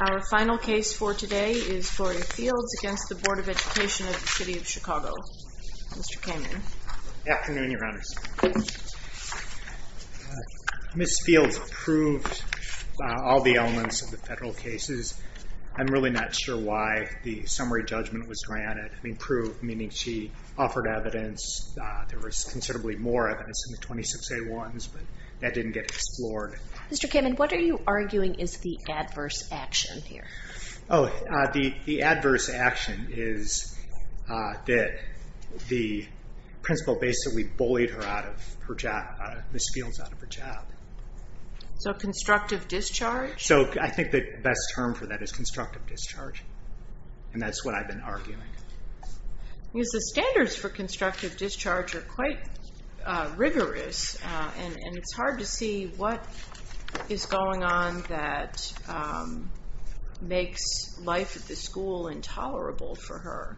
Our final case for today is Gloria Fields v. Board of Education of the City of Chicago. Mr. Kamin. Good afternoon, Your Honors. Ms. Fields approved all the elements of the federal cases. I'm really not sure why the summary judgment was granted. I mean, proved, meaning she offered evidence. There was considerably more evidence in the 26A1s, but that didn't get explored. Mr. Kamin, what are you arguing is the adverse action here? Oh, the adverse action is that the principal basically bullied Ms. Fields out of her job. So constructive discharge? So I think the best term for that is constructive discharge, and that's what I've been arguing. The standards for constructive discharge are quite rigorous, and it's hard to see what is going on that makes life at the school intolerable for her.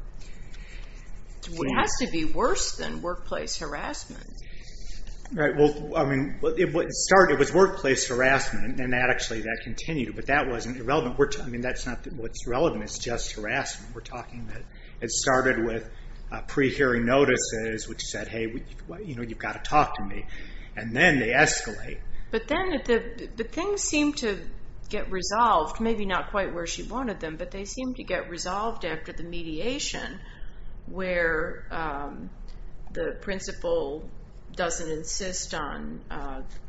It has to be worse than workplace harassment. Well, I mean, it was workplace harassment, and actually that continued, but that wasn't irrelevant. I mean, that's not what's relevant. It's just harassment. We're talking that it started with pre-hearing notices, which said, hey, you've got to talk to me, and then they escalate. But then the things seemed to get resolved, maybe not quite where she wanted them, but they seemed to get resolved after the mediation where the principal doesn't insist on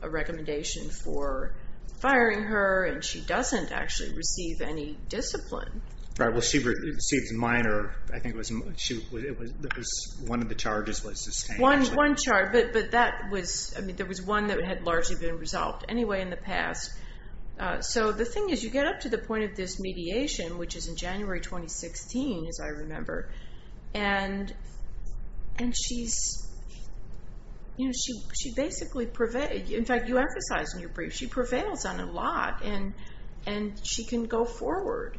a recommendation for firing her, and she doesn't actually receive any discipline. Right, well, she receives minor, I think it was one of the charges was sustained. One charge, but that was, I mean, there was one that had largely been resolved anyway in the past. So the thing is, you get up to the point of this mediation, which is in January 2016, as I remember, and she basically prevails. In fact, you emphasize in your brief, she prevails on a lot, and she can go forward.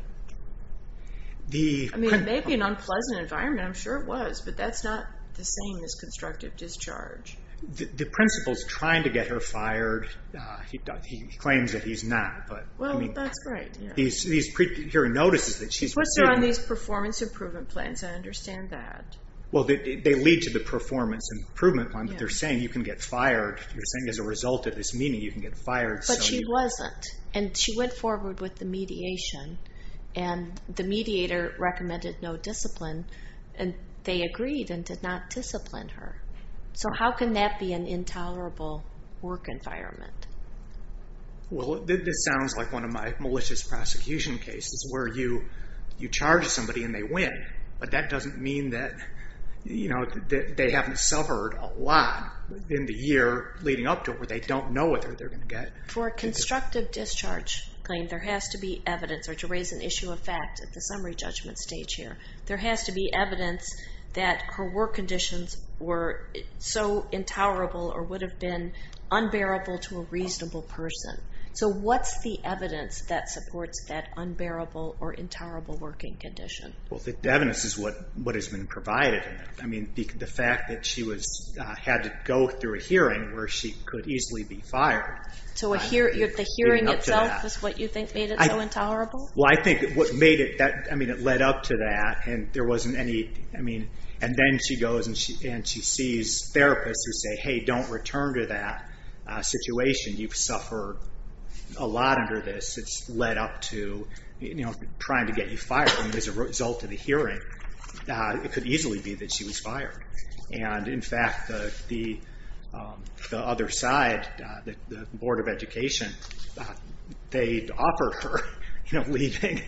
I mean, it may be an unpleasant environment. I'm sure it was, but that's not the same as constructive discharge. The principal's trying to get her fired. He claims that he's not. Well, that's right. These pre-hearing notices that she's receiving. It's what's on these performance improvement plans. I understand that. Well, they lead to the performance improvement plan, but they're saying you can get fired. They're saying as a result of this meeting, you can get fired. But she wasn't, and she went forward with the mediation, and the mediator recommended no discipline, and they agreed and did not discipline her. So how can that be an intolerable work environment? Well, this sounds like one of my malicious prosecution cases where you charge somebody and they win, but that doesn't mean that they haven't suffered a lot in the year leading up to it where they don't know what they're going to get. For a constructive discharge claim, there has to be evidence or to raise an issue of fact at the summary judgment stage here. There has to be evidence that her work conditions were so intolerable or would have been unbearable to a reasonable person. So what's the evidence that supports that unbearable or intolerable working condition? Well, the evidence is what has been provided. I mean, the fact that she had to go through a hearing where she could easily be fired. So the hearing itself is what you think made it so intolerable? Well, I think what made itóI mean, it led up to that, and there wasn't anyóI mean, and then she goes and she sees therapists who say, hey, don't return to that situation. You've suffered a lot under this. It's led up to trying to get you fired, and as a result of the hearing, it could easily be that she was fired. And, in fact, the other side, the Board of Education, they offered her leavingóoffered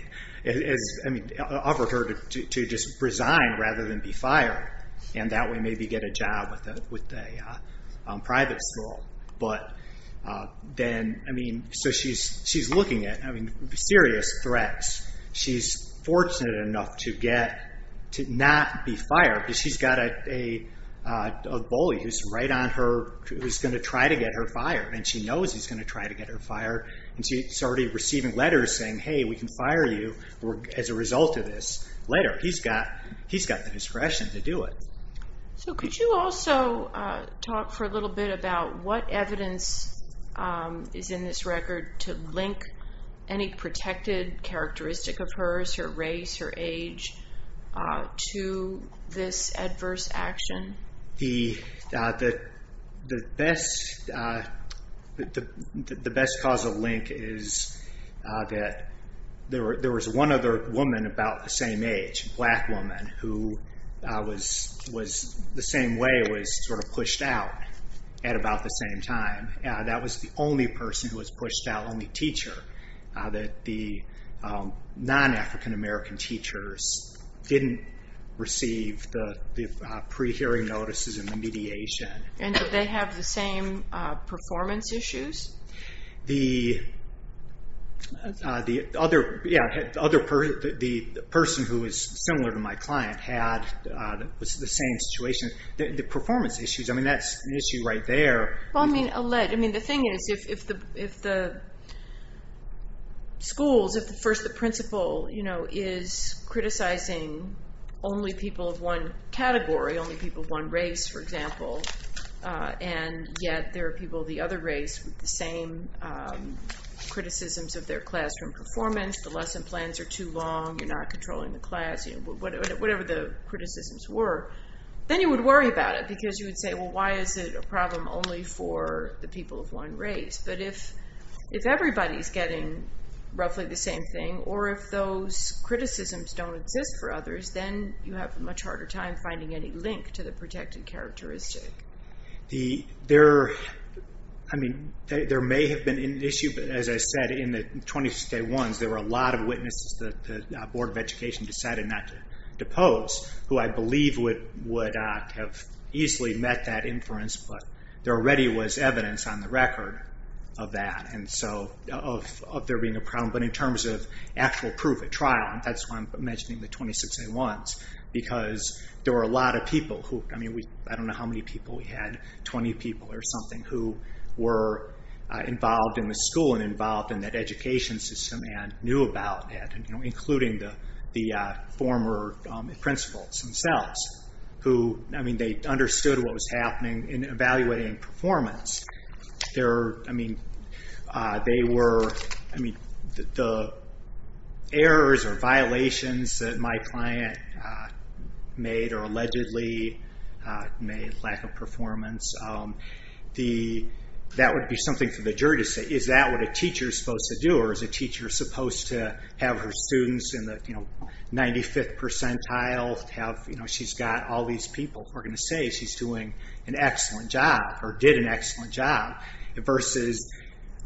her to just resign rather than be fired, and that way maybe get a job with a private school. But then, I mean, so she's looking at serious threats. She's fortunate enough to getóto not be fired because she's got a bully who's right on heró who's going to try to get her fired, and she knows he's going to try to get her fired, and she's already receiving letters saying, hey, we can fire you as a result of this later. He's got the discretion to do it. So could you also talk for a little bit about what evidence is in this record to link any protected characteristic of hers, her race, her age, to this adverse action? The best causal link is that there was one other woman about the same age, a black woman, who was the same way, was sort of pushed out at about the same time. That was the only person who was pushed out, only teacher, that the non-African-American teachers didn't receive the pre-hearing notices and the mediation. And did they have the same performance issues? The otheróthe person who was similar to my client had the same situation. The performance issues, I mean, that's an issue right there. Well, I mean, the thing is, if the schools, if first the principal is criticizing only people of one category, only people of one race, for example, and yet there are people of the other race with the same criticisms of their classroom performance, the lesson plans are too long, you're not controlling the class, whatever the criticisms were, then you would worry about it, because you would say, well, why is it a problem only for the people of one race? But if everybody's getting roughly the same thing, or if those criticisms don't exist for others, then you have a much harder time finding any link to the protected characteristic. There may have been an issue, but as I said, in the 26A1s, there were a lot of witnesses that the Board of Education decided not to depose, who I believe would have easily met that inference, but there already was evidence on the record of that, of there being a problem. But in terms of actual proof at trial, that's why I'm mentioning the 26A1s, because there were a lot of people whoóI mean, I don't know how many people we had, 20 people or something who were involved in the school and involved in that education system and knew about that, including the former principals themselves, who, I mean, they understood what was happening in evaluating performance. There were, I mean, the errors or violations that my client made, or allegedly made, lack of performance, that would be something for the jury to say, is that what a teacher is supposed to do, or is a teacher supposed to have her students in the 95th percentile, she's got all these people who are going to say she's doing an excellent job, or did an excellent job, versus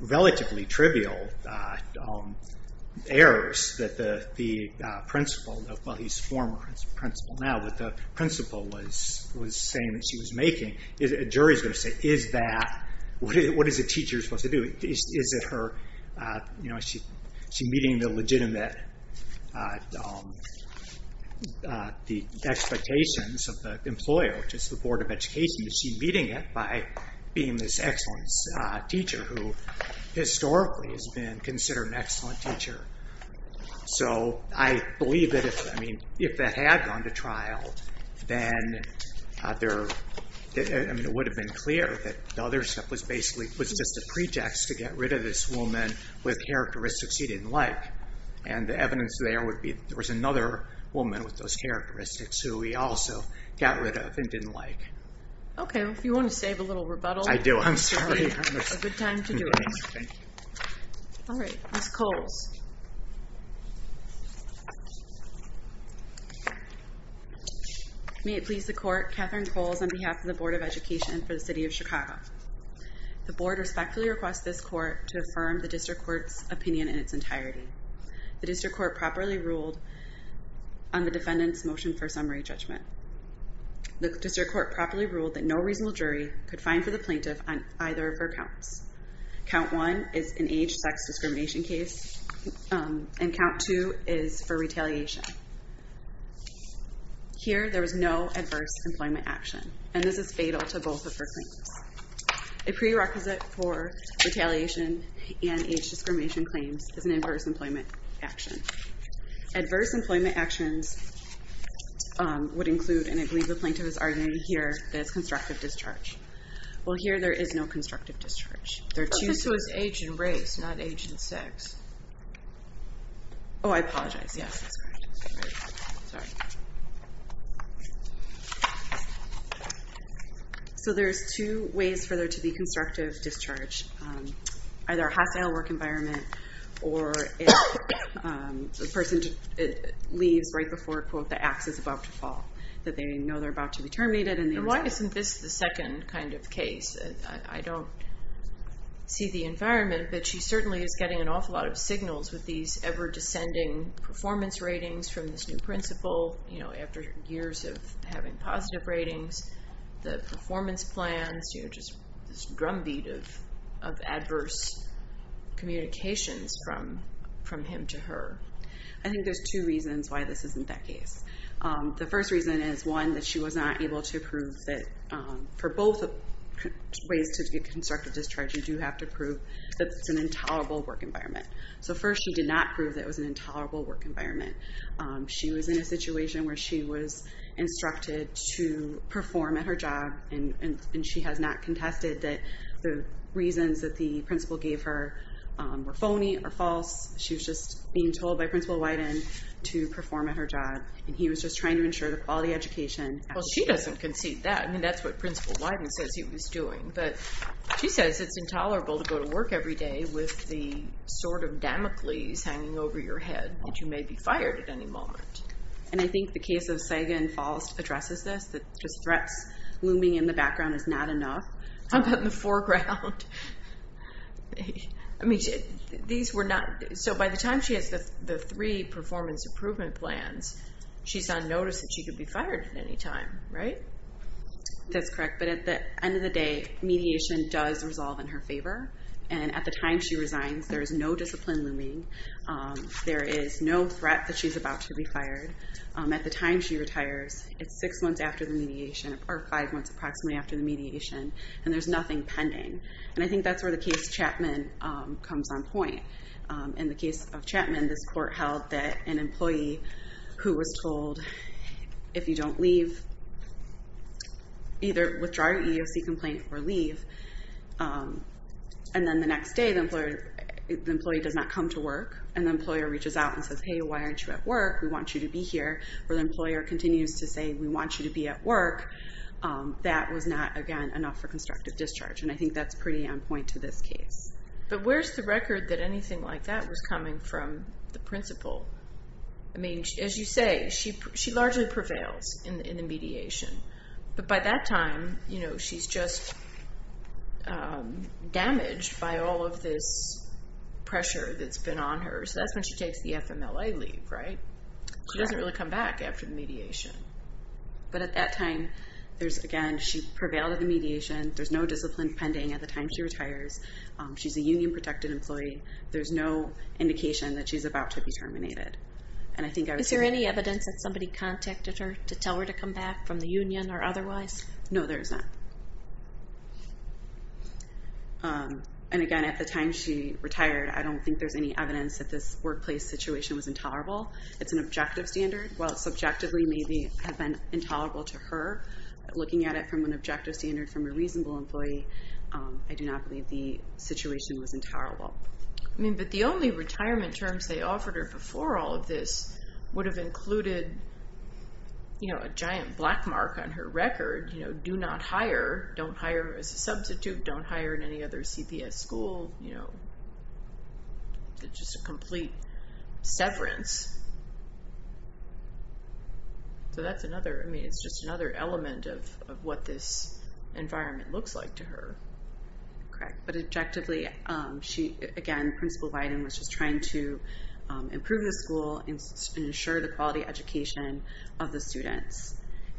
relatively trivial errors that the principaló well, he's a former principal now, but the principal was saying that she was makingó a jury is going to say, is thatówhat is a teacher supposed to do? Is it heróis she meeting the legitimateóthe expectations of the employer, which is the Board of Education, is she meeting it by being this excellent teacher who historically has been considered an excellent teacher? So I believe that ifóI mean, if that had gone to trial, then thereó I mean, it would have been clear that the other step was basicallyó was just a pretext to get rid of this woman with characteristics he didn't like. And the evidence there would be that there was another woman with those characteristics who he also got rid of and didn't like. Okay. Well, if you want to save a little rebuttaló I do. I'm sorry. It's a good time to do it. Thank you. All right. Ms. Coles. May it please the Court, Catherine Coles on behalf of the Board of Education for the City of Chicago. The Board respectfully requests this Court to affirm the District Court's opinion in its entirety. The District Court properly ruled on the defendant's motion for summary judgment. The District Court properly ruled that no reasonable jury could find for the plaintiff on either of her counts. Count 1 is an age-sex discrimination case, and Count 2 is for retaliation. Here, there was no adverse employment action, and this is fatal to both of her claims. A prerequisite for retaliation and age-discrimination claims is an adverse employment action. Adverse employment actions would includeó and I believe the plaintiff is arguing hereó that it's constructive discharge. Well, here there is no constructive discharge. This was age and race, not age and sex. Oh, I apologize. Yes. So there's two ways for there to be constructive discharge. Either a hostile work environment, or if the person leaves right before, quote, the axe is about to fall, that they know they're about to be terminated. And why isn't this the second kind of case? I don't see the environment, but she certainly is getting an awful lot of signals with these ever-descending performance ratings from this new principal, you know, after years of having positive ratings, the performance plans, you know, just this drumbeat of adverse communications from him to her. I think there's two reasons why this isn't that case. The first reason is, one, that she was not able to prove tható for both ways to get constructive discharge, you do have to prove that it's an intolerable work environment. So first, she did not prove that it was an intolerable work environment. She was in a situation where she was instructed to perform at her job, and she has not contested that the reasons that the principal gave her were phony or false. She was just being told by Principal Wyden to perform at her job, and he was just trying to ensure the quality education. Well, she doesn't concede that. I mean, that's what Principal Wyden says he was doing. But she says it's intolerable to go to work every day with the sword of Damocles hanging over your head that you may be fired at any moment. And I think the case of Sagan false addresses this, that just threats looming in the background is not enough. How about in the foreground? I mean, these were notó So by the time she has the three performance improvement plans, she's on notice that she could be fired at any time, right? That's correct. But at the end of the day, mediation does resolve in her favor. And at the time she resigns, there is no discipline looming. There is no threat that she's about to be fired. At the time she retires, it's 6 months after the mediation, or 5 months approximately after the mediation, and there's nothing pending. And I think that's where the case Chapman comes on point In the case of Chapman, this court held that an employee who was told, if you don't leave, either withdraw your EEOC complaint or leave, and then the next day the employee does not come to work, and the employer reaches out and says, Hey, why aren't you at work? We want you to be here. Or the employer continues to say, We want you to be at work. That was not, again, enough for constructive discharge. And I think that's pretty on point to this case. But where's the record that anything like that was coming from the principal? I mean, as you say, she largely prevails in the mediation. But by that time, she's just damaged by all of this pressure that's been on her. So that's when she takes the FMLA leave, right? She doesn't really come back after the mediation. But at that time, again, she prevailed at the mediation. There's no discipline pending at the time she retires. She's a union-protected employee. There's no indication that she's about to be terminated. Is there any evidence that somebody contacted her to tell her to come back from the union or otherwise? No, there isn't. And, again, at the time she retired, I don't think there's any evidence that this workplace situation was intolerable. It's an objective standard. While it subjectively may have been intolerable to her, looking at it from an objective standard from a reasonable employee, I do not believe the situation was intolerable. I mean, but the only retirement terms they offered her before all of this would have included, you know, a giant black mark on her record, you know, do not hire, don't hire as a substitute, don't hire in any other CPS school, you know, just a complete severance. So that's another, I mean, it's just another element of what this environment looks like to her. Correct. But objectively, she, again, Principal Biden was just trying to improve the school and ensure the quality education of the students.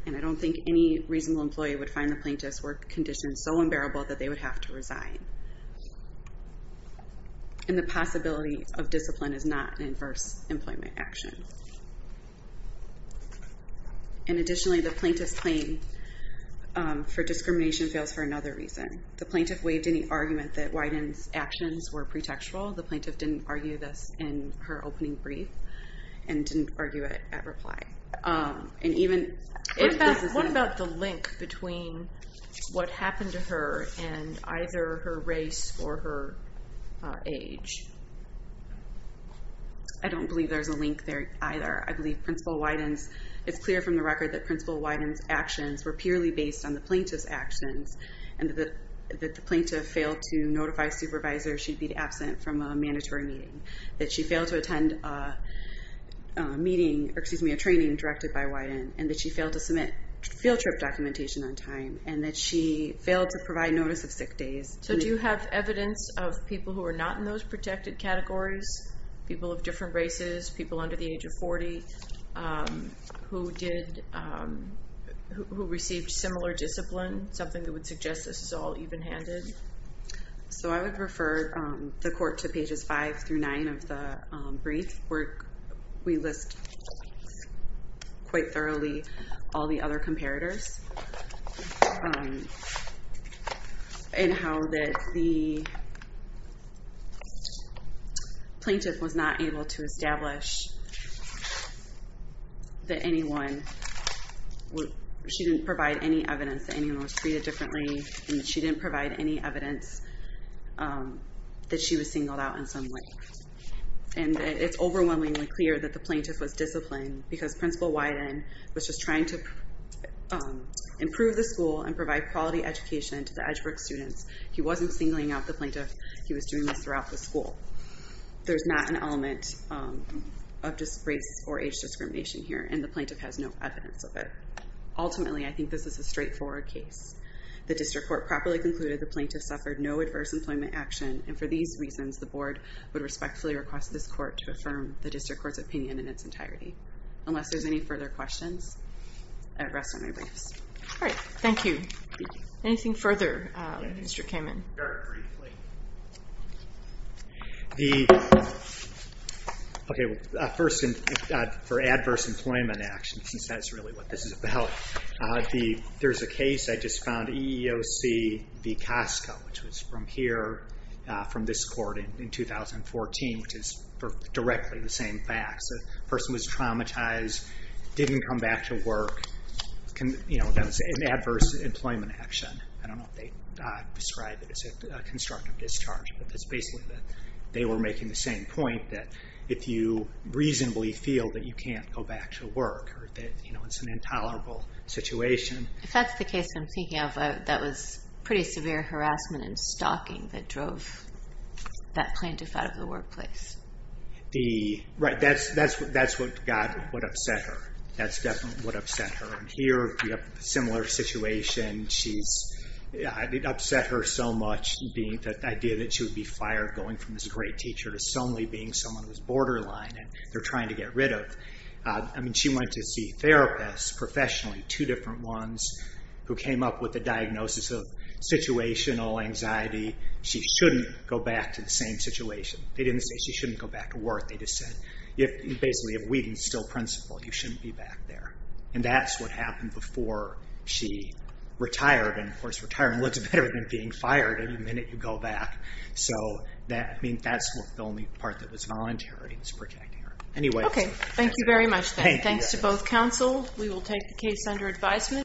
And I don't think any reasonable employee would find the plaintiff's work conditions so unbearable that they would have to resign. And the possibility of discipline is not an adverse employment action. And additionally, the plaintiff's claim for discrimination fails for another reason. The plaintiff waived any argument that Wyden's actions were pretextual. The plaintiff didn't argue this in her opening brief and didn't argue it at reply. What about the link between what happened to her and either her race or her age? I don't believe there's a link there either. I believe Principal Wyden's, it's clear from the record that Principal Wyden's actions were purely based on the plaintiff's actions and that the plaintiff failed to notify supervisors she'd be absent from a mandatory meeting, that she failed to attend a meeting, or excuse me, a training directed by Wyden, and that she failed to submit field trip documentation on time, and that she failed to provide notice of sick days. So do you have evidence of people who are not in those protected categories, people of different races, people under the age of 40, who received similar discipline, something that would suggest this is all even-handed? So I would refer the court to pages five through nine of the brief, where we list quite thoroughly all the other comparators and how that the plaintiff was not able to establish that anyone, she didn't provide any evidence that anyone was treated differently and she didn't provide any evidence that she was singled out in some way. And it's overwhelmingly clear that the plaintiff was disciplined because Principal Wyden was just trying to improve the school and provide quality education to the Edgeworth students. He wasn't singling out the plaintiff. He was doing this throughout the school. There's not an element of just race or age discrimination here, and the plaintiff has no evidence of it. Ultimately, I think this is a straightforward case. The district court properly concluded the plaintiff suffered no adverse employment action, and for these reasons, the board would respectfully request this court to affirm the district court's opinion in its entirety. Unless there's any further questions, I would rest on my briefs. All right. Thank you. Anything further, Mr. Kamen? Very briefly. First, for adverse employment action, since that's really what this is about, there's a case I just found, EEOC v. Costco, which was from here, from this court in 2014, which is directly the same facts. The person was traumatized, didn't come back to work. That was an adverse employment action. I don't know if they describe it as a constructive discharge, but it's basically that they were making the same point that if you reasonably feel that you can't go back to work or that it's an intolerable situation. If that's the case I'm thinking of, that was pretty severe harassment and stalking that drove that plaintiff out of the workplace. Right. That's what upset her. That's definitely what upset her. Here, we have a similar situation. It upset her so much, the idea that she would be fired, going from this great teacher to solely being someone who's borderline and they're trying to get rid of. She went to see therapists professionally, two different ones, who came up with a diagnosis of situational anxiety. She shouldn't go back to the same situation. They didn't say she shouldn't go back to work. They just said, basically, if Whedon's still principal, you shouldn't be back there. That's what happened before she retired. Of course, retirement looks better than being fired any minute you go back. That's the only part that was voluntary, was protecting her. Okay. Thank you very much, Ben. Thanks to both counsel. We will take the case under advisement.